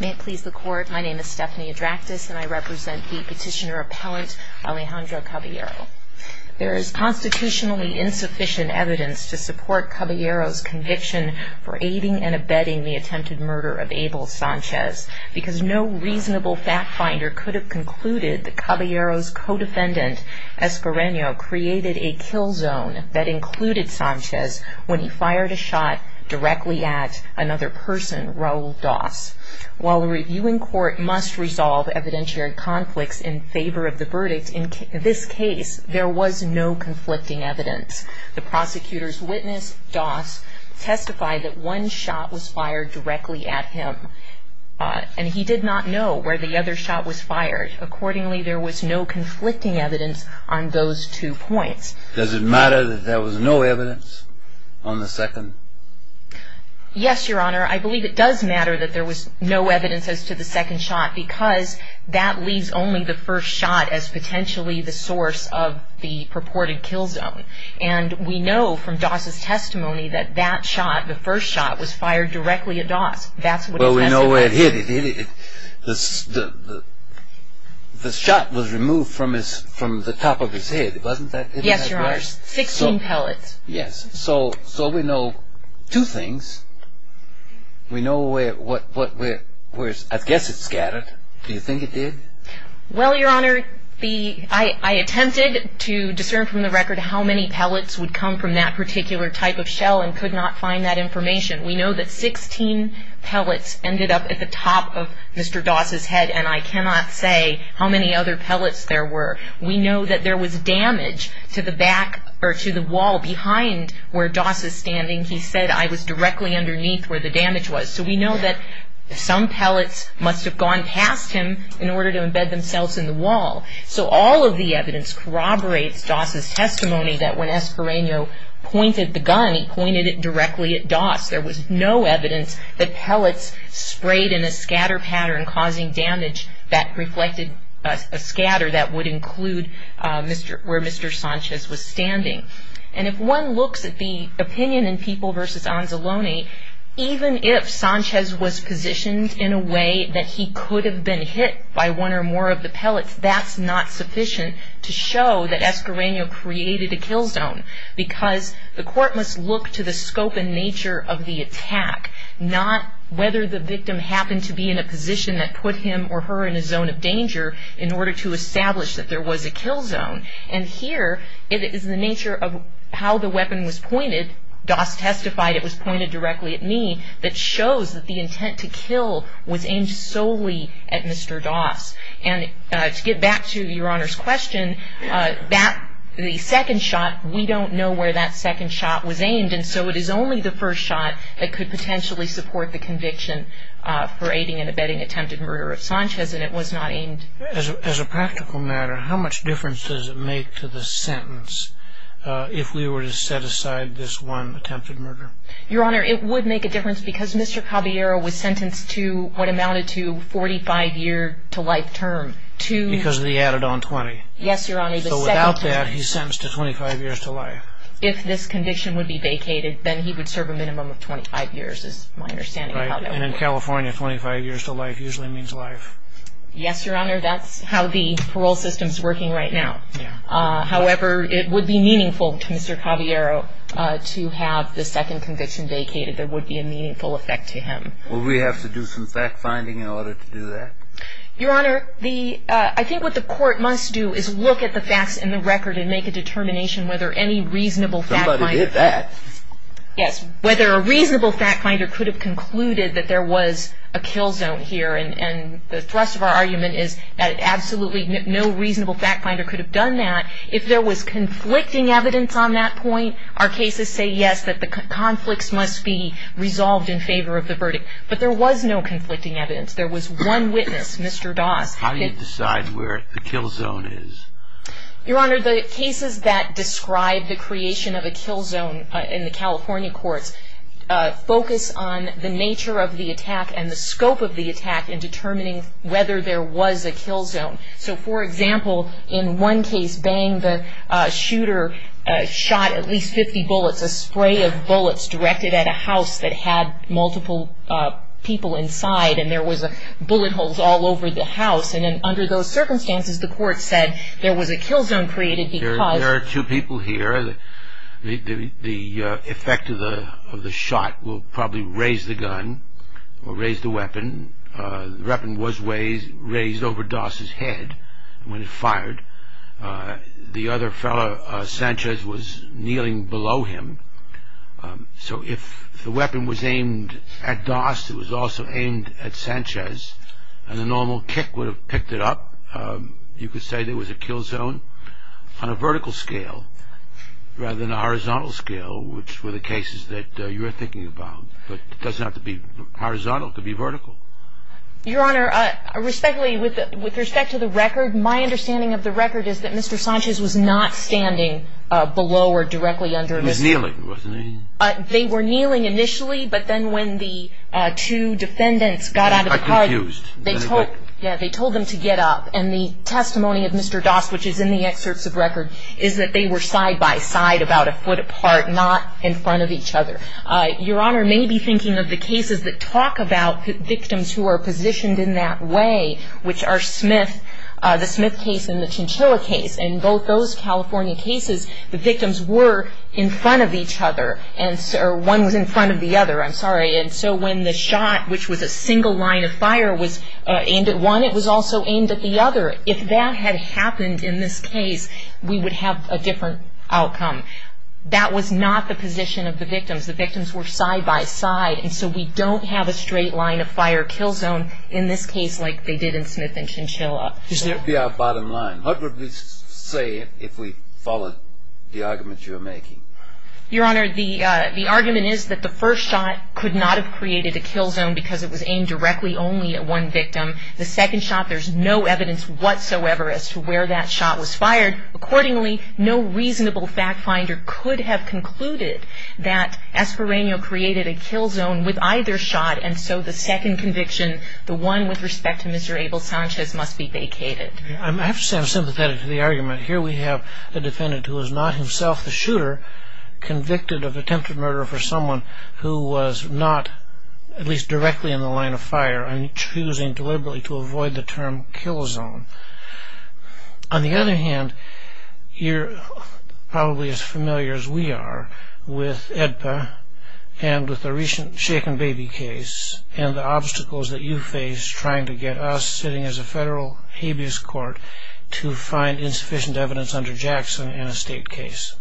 May it please the Court, my name is Stephanie Adractis and I represent the Petitioner Appellant Alejandro Caballero. There is constitutionally insufficient evidence to support Caballero's conviction for aiding and abetting the attempted murder of Abel Sanchez because no reasonable fact finder could have concluded that Caballero's co-defendant, Espereno, created a kill zone that included Sanchez when he fired a shot directly at another person, Raul Das. While the Reviewing Court must resolve evidentiary conflicts in favor of the verdict, in this case there was no conflicting evidence. The prosecutor's witness, Das, testified that one shot was fired directly at him and he did not know where the other shot was fired. Accordingly, there was no conflicting evidence on those two points. Does it matter that there was no evidence on the second? Yes, Your Honor. I believe it does matter that there was no evidence as to the second shot because that leaves only the first shot as potentially the source of the purported kill zone. And we know from Das' testimony that that shot, the first shot, was fired directly at Das. Well, we know where it hit. The shot was removed from the top of his head, wasn't that right? Yes, Your Honor. 16 pellets. Yes. So we know two things. We know where, I guess it scattered. Do you think it did? Well, Your Honor, I attempted to discern from the record how many pellets would come from that particular type of shell and could not find that information. We know that 16 pellets ended up at the top of Mr. Das' head and I cannot say how many other pellets there were. We know that there was damage to the back, or to the wall, behind where Das is standing. He said, I was directly underneath where the damage was. So we know that some pellets must have gone past him in order to embed themselves in the wall. So all of the evidence corroborates Das' testimony that when Espereno pointed the gun, he pointed it directly at Das. There was no evidence that pellets sprayed in a scatter pattern causing damage that reflected a scatter that would include where Mr. Sanchez was standing. And if one looks at the opinion in People v. Anzalone, even if Sanchez was positioned in a way that he could have been hit by one or more of the pellets, that's not sufficient to show that Espereno created a kill zone. Because the court must look to the scope and nature of the attack, not whether the victim happened to be in a position that put him or her in a zone of danger in order to establish that there was a kill zone. And here it is the nature of how the weapon was pointed. Das testified, it was pointed directly at me, that shows that the intent to kill was aimed solely at Mr. Das. And to get back to Your Honor's question, the second shot, we don't know where that second shot was aimed. And so it is only the first shot that could potentially support the conviction for aiding and abetting attempted murder of Sanchez, and it was not aimed. As a practical matter, how much difference does it make to the sentence if we were to set aside this one attempted murder? Your Honor, it would make a difference because Mr. Caballero was sentenced to what amounted to a 45-year-to-life term. Because of the add-on 20. Yes, Your Honor. So without that, he's sentenced to 25 years to life. If this condition would be vacated, then he would serve a minimum of 25 years, is my understanding. And in California, 25 years to life usually means life. Yes, Your Honor. That's how the parole system is working right now. However, it would be meaningful to Mr. Caballero to have the second conviction vacated. There would be a meaningful effect to him. Would we have to do some fact-finding in order to do that? Your Honor, I think what the court must do is look at the facts in the record and make a determination whether any reasonable fact-finder Somebody did that. Yes, whether a reasonable fact-finder could have concluded that there was a kill zone here. And the thrust of our argument is that absolutely no reasonable fact-finder could have done that. If there was conflicting evidence on that point, our cases say yes, that the conflicts must be resolved in favor of the verdict. But there was no conflicting evidence. There was one witness, Mr. Doss. How do you decide where the kill zone is? Your Honor, the cases that describe the creation of a kill zone in the California courts focus on the nature of the attack and the scope of the attack in determining whether there was a kill zone. So, for example, in one case, Bang, the shooter, shot at least 50 bullets, a spray of bullets directed at a house that had multiple people inside, and there was bullet holes all over the house. And under those circumstances, the court said there was a kill zone created because... There are two people here. The effect of the shot will probably raise the gun or raise the weapon. The weapon was raised over Doss's head when it fired. The other fellow, Sanchez, was kneeling below him. So if the weapon was aimed at Doss, it was also aimed at Sanchez, and the normal kick would have picked it up, you could say there was a kill zone on a vertical scale rather than a horizontal scale, which were the cases that you were thinking about. But it doesn't have to be horizontal. It could be vertical. Your Honor, respectfully, with respect to the record, my understanding of the record is that Mr. Sanchez was not standing below or directly under Mr. Doss. He was kneeling, wasn't he? They were kneeling initially, but then when the two defendants got out of the car... I'm confused. Yeah, they told them to get up. And the testimony of Mr. Doss, which is in the excerpts of record, is that they were side by side about a foot apart, not in front of each other. Your Honor, maybe thinking of the cases that talk about victims who are positioned in that way, which are Smith, the Smith case and the Chinchilla case, in both those California cases, the victims were in front of each other. One was in front of the other, I'm sorry. And so when the shot, which was a single line of fire, was aimed at one, it was also aimed at the other. If that had happened in this case, we would have a different outcome. That was not the position of the victims. The victims were side by side, and so we don't have a straight line of fire kill zone in this case like they did in Smith and Chinchilla. So that would be our bottom line. What would we say if we followed the argument you're making? Your Honor, the argument is that the first shot could not have created a kill zone because it was aimed directly only at one victim. The second shot, there's no evidence whatsoever as to where that shot was fired. Accordingly, no reasonable fact finder could have concluded that Esperano created a kill zone with either shot, and so the second conviction, the one with respect to Mr. Abel Sanchez, must be vacated. I have to say I'm sympathetic to the argument. Here we have a defendant who is not himself the shooter, convicted of attempted murder for someone who was not at least directly in the line of fire, and choosing deliberately to avoid the term kill zone. On the other hand, you're probably as familiar as we are with AEDPA and with the recent Shaken Baby case and the obstacles that you face trying to get us, sitting as a federal habeas court, to find insufficient evidence under Jackson in a state case.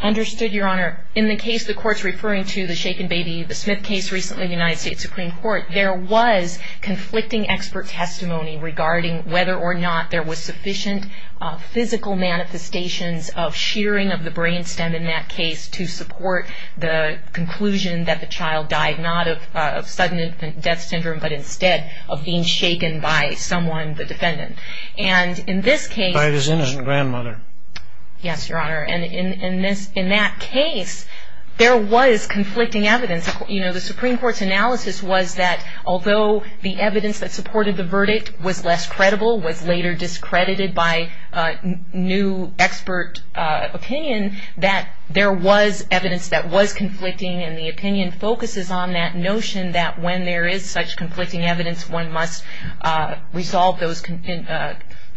Understood, Your Honor. In the case the court's referring to, the Shaken Baby, the Smith case recently in the United States Supreme Court, there was conflicting expert testimony regarding whether or not there was sufficient physical manifestations of shearing of the brain stem in that case to support the conclusion that the child died not of sudden infant death syndrome, but instead of being shaken by someone, the defendant. And in this case... By his innocent grandmother. Yes, Your Honor. And in that case, there was conflicting evidence. The Supreme Court's analysis was that although the evidence that supported the verdict was less credible, was later discredited by new expert opinion, that there was evidence that was conflicting and the opinion focuses on that notion that when there is such conflicting evidence, one must resolve those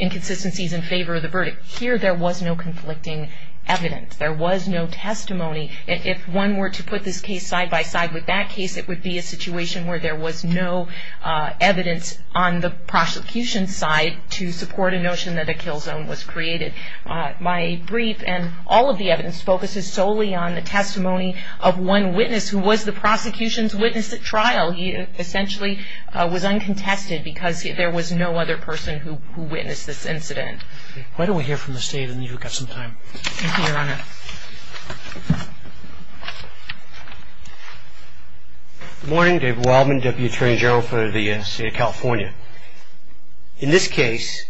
inconsistencies in favor of the verdict. Here, there was no conflicting evidence. There was no testimony. If one were to put this case side by side with that case, it would be a situation where there was no evidence on the prosecution's side to support a notion that a kill zone was created. My brief and all of the evidence focuses solely on the testimony of one witness who was the prosecution's witness at trial. He essentially was uncontested because there was no other person who witnessed this incident. Why don't we hear from Mr. Hayden? You've got some time. Thank you, Your Honor. Good morning. David Wildman, Deputy Attorney General for the State of California. In this case,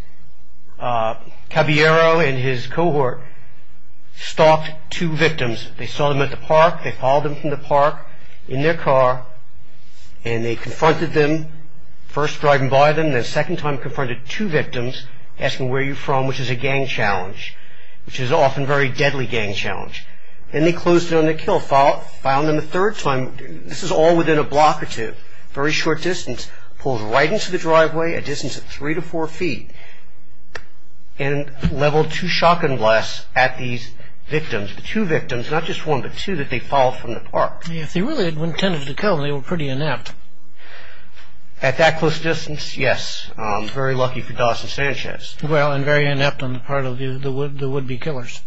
Caballero and his cohort stopped two victims. They saw them at the park. They followed them from the park in their car, and they confronted them, first driving by them, and then the second time confronted two victims asking, where are you from, which is a gang challenge, which is often a very deadly gang challenge. Then they closed in on the kill. Found them the third time. This is all within a block or two, very short distance. Pulled right into the driveway, a distance of three to four feet, and leveled two shotgun blasts at these victims, the two victims, not just one but two, that they followed from the park. If they really had intended to kill them, they were pretty inept. At that close distance, yes, very lucky for Das and Sanchez. Well, and very inept on the part of the would-be killers.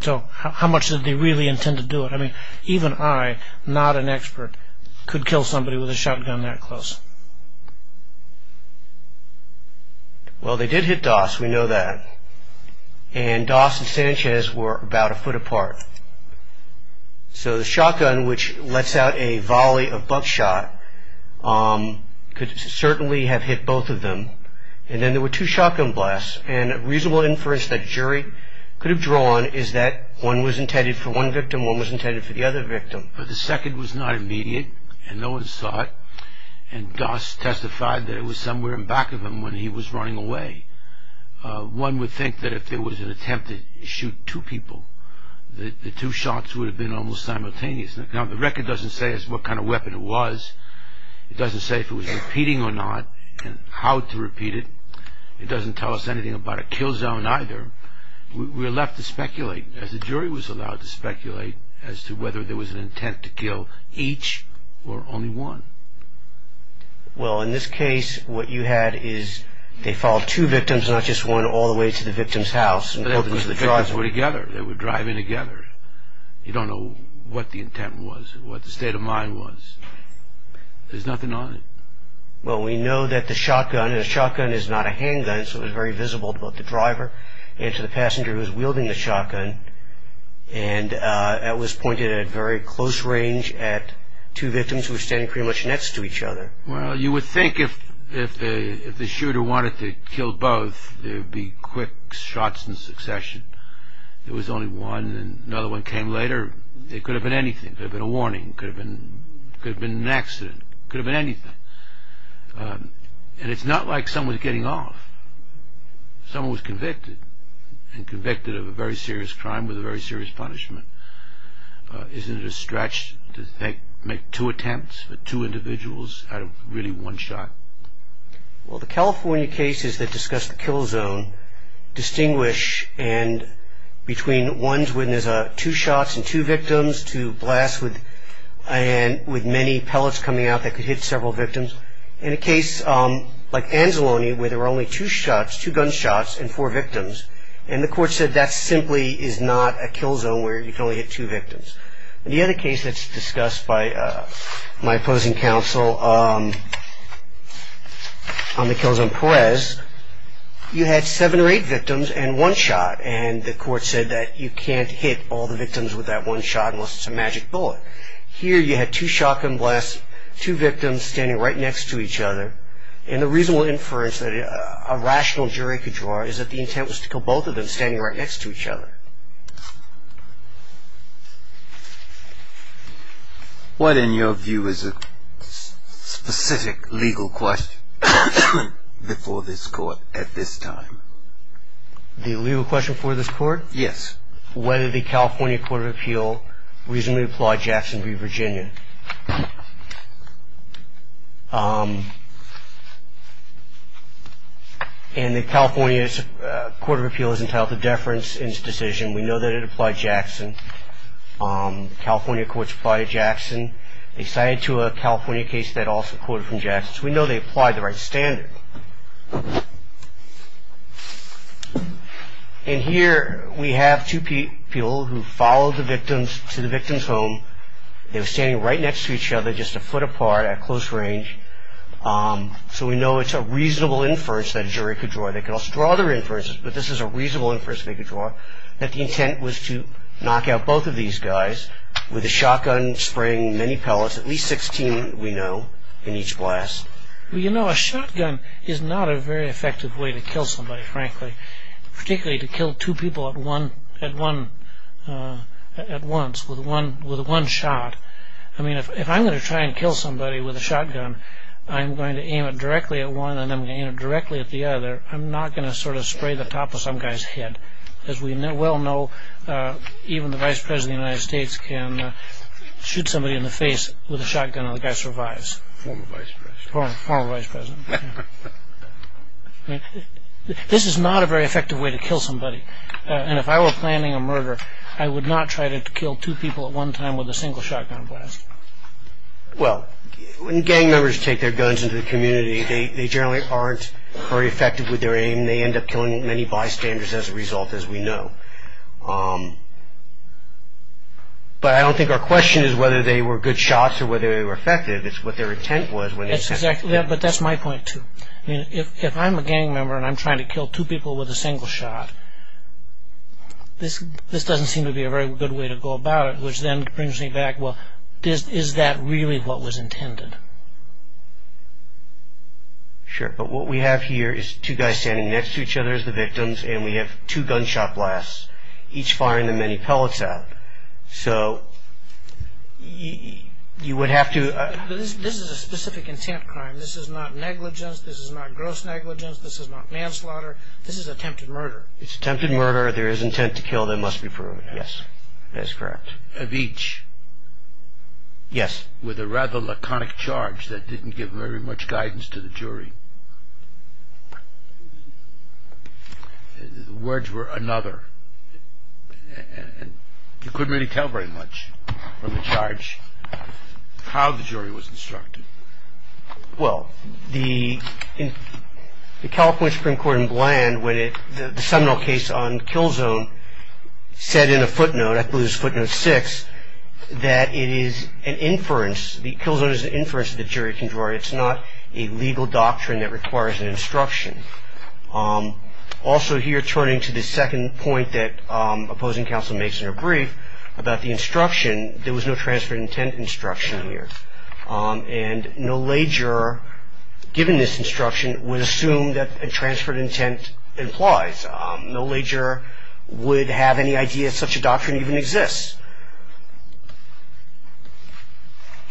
So how much did they really intend to do it? I mean, even I, not an expert, could kill somebody with a shotgun that close. Well, they did hit Das, we know that, and Das and Sanchez were about a foot apart. So the shotgun, which lets out a volley of buckshot, could certainly have hit both of them, and then there were two shotgun blasts, and a reasonable inference that a jury could have drawn is that one was intended for one victim, one was intended for the other victim. But the second was not immediate, and no one saw it, and Das testified that it was somewhere in back of him when he was running away. One would think that if there was an attempt to shoot two people, the two shots would have been almost simultaneous. Now, the record doesn't say what kind of weapon it was. It doesn't say if it was repeating or not, and how to repeat it. It doesn't tell us anything about a kill zone either. We're left to speculate, as the jury was allowed to speculate, as to whether there was an intent to kill each or only one. Well, in this case, what you had is they followed two victims, not just one, all the way to the victim's house. Because the victims were together, they were driving together. You don't know what the intent was, what the state of mind was. There's nothing on it. Well, we know that the shotgun, and a shotgun is not a handgun, so it was very visible to both the driver and to the passenger who was wielding the shotgun, and it was pointed at very close range at two victims who were standing pretty much next to each other. Well, you would think if the shooter wanted to kill both, there would be quick shots in succession. There was only one, and another one came later. It could have been anything. It could have been a warning. It could have been an accident. It could have been anything. And it's not like someone was getting off. Someone was convicted, and convicted of a very serious crime with a very serious punishment. Isn't it a stretch to make two attempts at two individuals out of really one shot? Well, the California cases that discuss the kill zone distinguish between ones where there's two shots and two victims to blasts with many pellets coming out that could hit several victims, and a case like Anzalone where there were only two shots, two gunshots and four victims, and the court said that simply is not a kill zone where you can only hit two victims. In the other case that's discussed by my opposing counsel on the kill zone, Perez, you had seven or eight victims and one shot, and the court said that you can't hit all the victims with that one shot unless it's a magic bullet. Here you had two shotgun blasts, two victims standing right next to each other, and the reasonable inference that a rational jury could draw is that the intent was to kill both of them standing right next to each other. What in your view is a specific legal question before this court at this time? The legal question before this court? Yes. Whether the California Court of Appeal reasonably applaud Jackson v. Virginia. And the California Court of Appeal is entitled to deference in its decision. We know that it applied Jackson. The California courts applied Jackson. They cited to a California case that also quoted from Jackson. So we know they applied the right standard. And here we have two people who followed the victims to the victim's home. They were standing right next to each other, just a foot apart at close range. So we know it's a reasonable inference that a jury could draw. They could also draw other inferences, but this is a reasonable inference they could draw, that the intent was to knock out both of these guys with a shotgun spraying many pellets, at least 16, we know, in each blast. Well, you know, a shotgun is not a very effective way to kill somebody, frankly, particularly to kill two people at once with one shot. I mean, if I'm going to try and kill somebody with a shotgun, I'm going to aim it directly at one and I'm going to aim it directly at the other. I'm not going to sort of spray the top of some guy's head. As we well know, even the vice president of the United States can shoot somebody in the face with a shotgun and the guy survives. Former vice president. Former vice president. This is not a very effective way to kill somebody. And if I were planning a murder, I would not try to kill two people at one time with a single shotgun blast. Well, when gang members take their guns into the community, they generally aren't very effective with their aim. They end up killing many bystanders as a result, as we know. But I don't think our question is whether they were good shots or whether they were effective. It's what their intent was. But that's my point, too. If I'm a gang member and I'm trying to kill two people with a single shot, this doesn't seem to be a very good way to go about it, which then brings me back, well, is that really what was intended? Sure. But what we have here is two guys standing next to each other as the victims and we have two gunshot blasts, each firing the many pellets out. So you would have to. This is a specific intent crime. This is not negligence. This is not gross negligence. This is not manslaughter. This is attempted murder. It's attempted murder. There is intent to kill. There must be proven. Yes. That is correct. Of each. Yes. With a rather laconic charge that didn't give very much guidance to the jury. The words were another. And you couldn't really tell very much from the charge how the jury was instructed. Well, the California Supreme Court in Bland, the seminal case on Killzone, said in a footnote, I believe it was footnote six, that it is an inference, the Killzone is an inference that the jury can draw. It's not a legal doctrine that requires an instruction. Also here, turning to the second point that opposing counsel makes in her brief about the instruction, there was no transfer of intent instruction here. And no lay juror, given this instruction, would assume that a transfer of intent implies. No lay juror would have any idea such a doctrine even exists.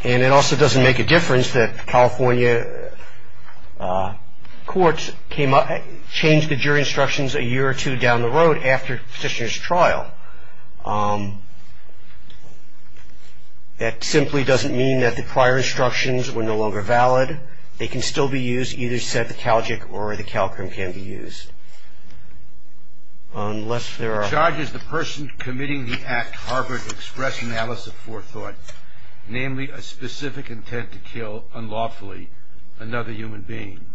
And it also doesn't make a difference that California courts came up, changed the jury instructions a year or two down the road after Petitioner's trial. That simply doesn't mean that the prior instructions were no longer valid. They can still be used, either said the Calgic or the Calcrim can be used, unless there are. The charge is the person committing the act harbored express analysis of forethought, namely a specific intent to kill unlawfully another human being.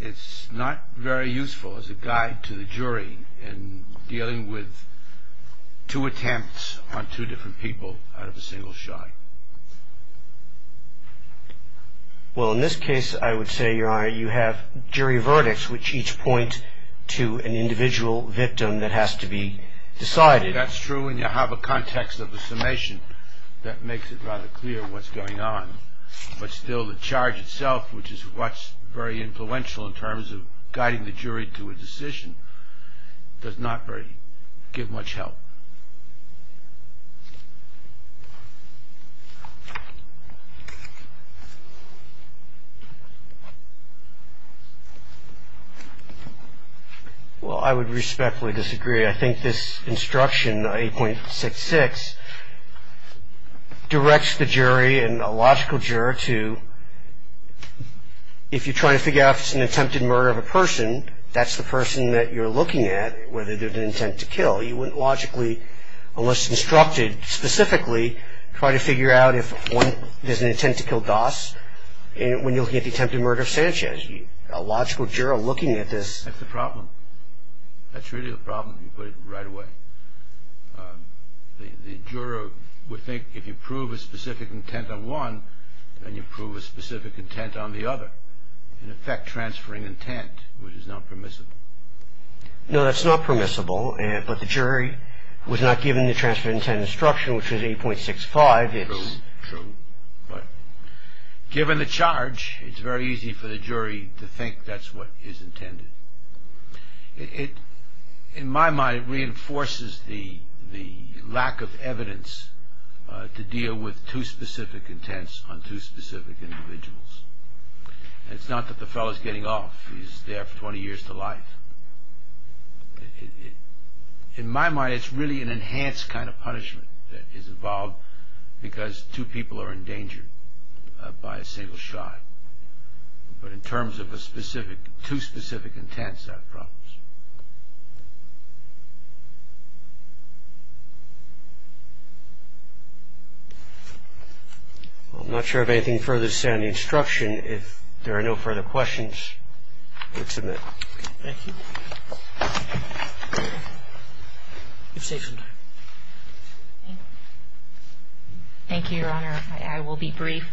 It's not very useful as a guide to the jury in dealing with two attempts on two different people out of a single shot. Well, in this case, I would say, Your Honor, you have jury verdicts, which each point to an individual victim that has to be decided. That's true, and you have a context of the summation that makes it rather clear what's going on. But still, the charge itself, which is what's very influential in terms of guiding the jury to a decision, does not really give much help. Well, I would respectfully disagree. I think this instruction, 8.66, directs the jury and a logical juror to, if you're trying to figure out if it's an attempted murder of a person, that's the person that you're looking at, whether there's an intent to kill. You wouldn't logically, unless instructed specifically, try to figure out if there's an intent to kill Das when you're looking at the attempted murder of Sanchez. A logical juror looking at this... That's the problem. That's really the problem, to put it right away. The juror would think if you prove a specific intent on one, then you prove a specific intent on the other, in effect transferring intent, which is not permissible. No, that's not permissible, but the jury was not given the transfer of intent instruction, which was 8.65. True, true. But given the charge, it's very easy for the jury to think that's what is intended. In my mind, it reinforces the lack of evidence to deal with two specific intents on two specific individuals. It's not that the fellow's getting off, he's there for 20 years to life. In my mind, it's really an enhanced kind of punishment that is involved because two people are endangered by a single shot. But in terms of two specific intents, that problems. I'm not sure of anything further to say on the instruction. If there are no further questions, we'll submit. Thank you. Thank you, Your Honor. I will be brief.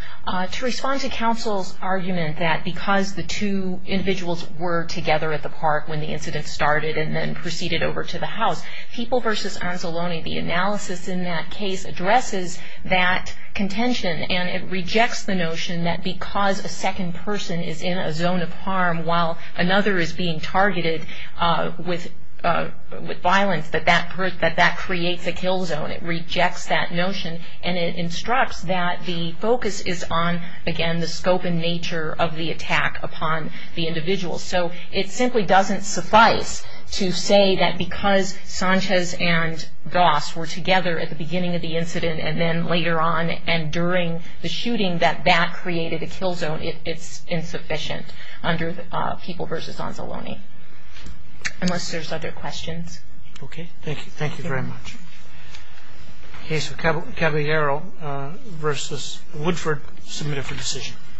To respond to counsel's argument that because the two individuals were together at the park when the incident started and then proceeded over to the house, People v. Anzalone, the analysis in that case addresses that contention, and it rejects the notion that because a second person is in a zone of harm while another is being targeted with violence, that that creates a kill zone. It rejects that notion, and it instructs that the focus is on, again, the scope and nature of the attack upon the individual. So it simply doesn't suffice to say that because Sanchez and Goss were together at the beginning of the incident and then later on and during the shooting that that created a kill zone, it's insufficient under People v. Anzalone. Unless there's other questions. Okay. Thank you very much. Case of Caballero v. Woodford submitted for decision.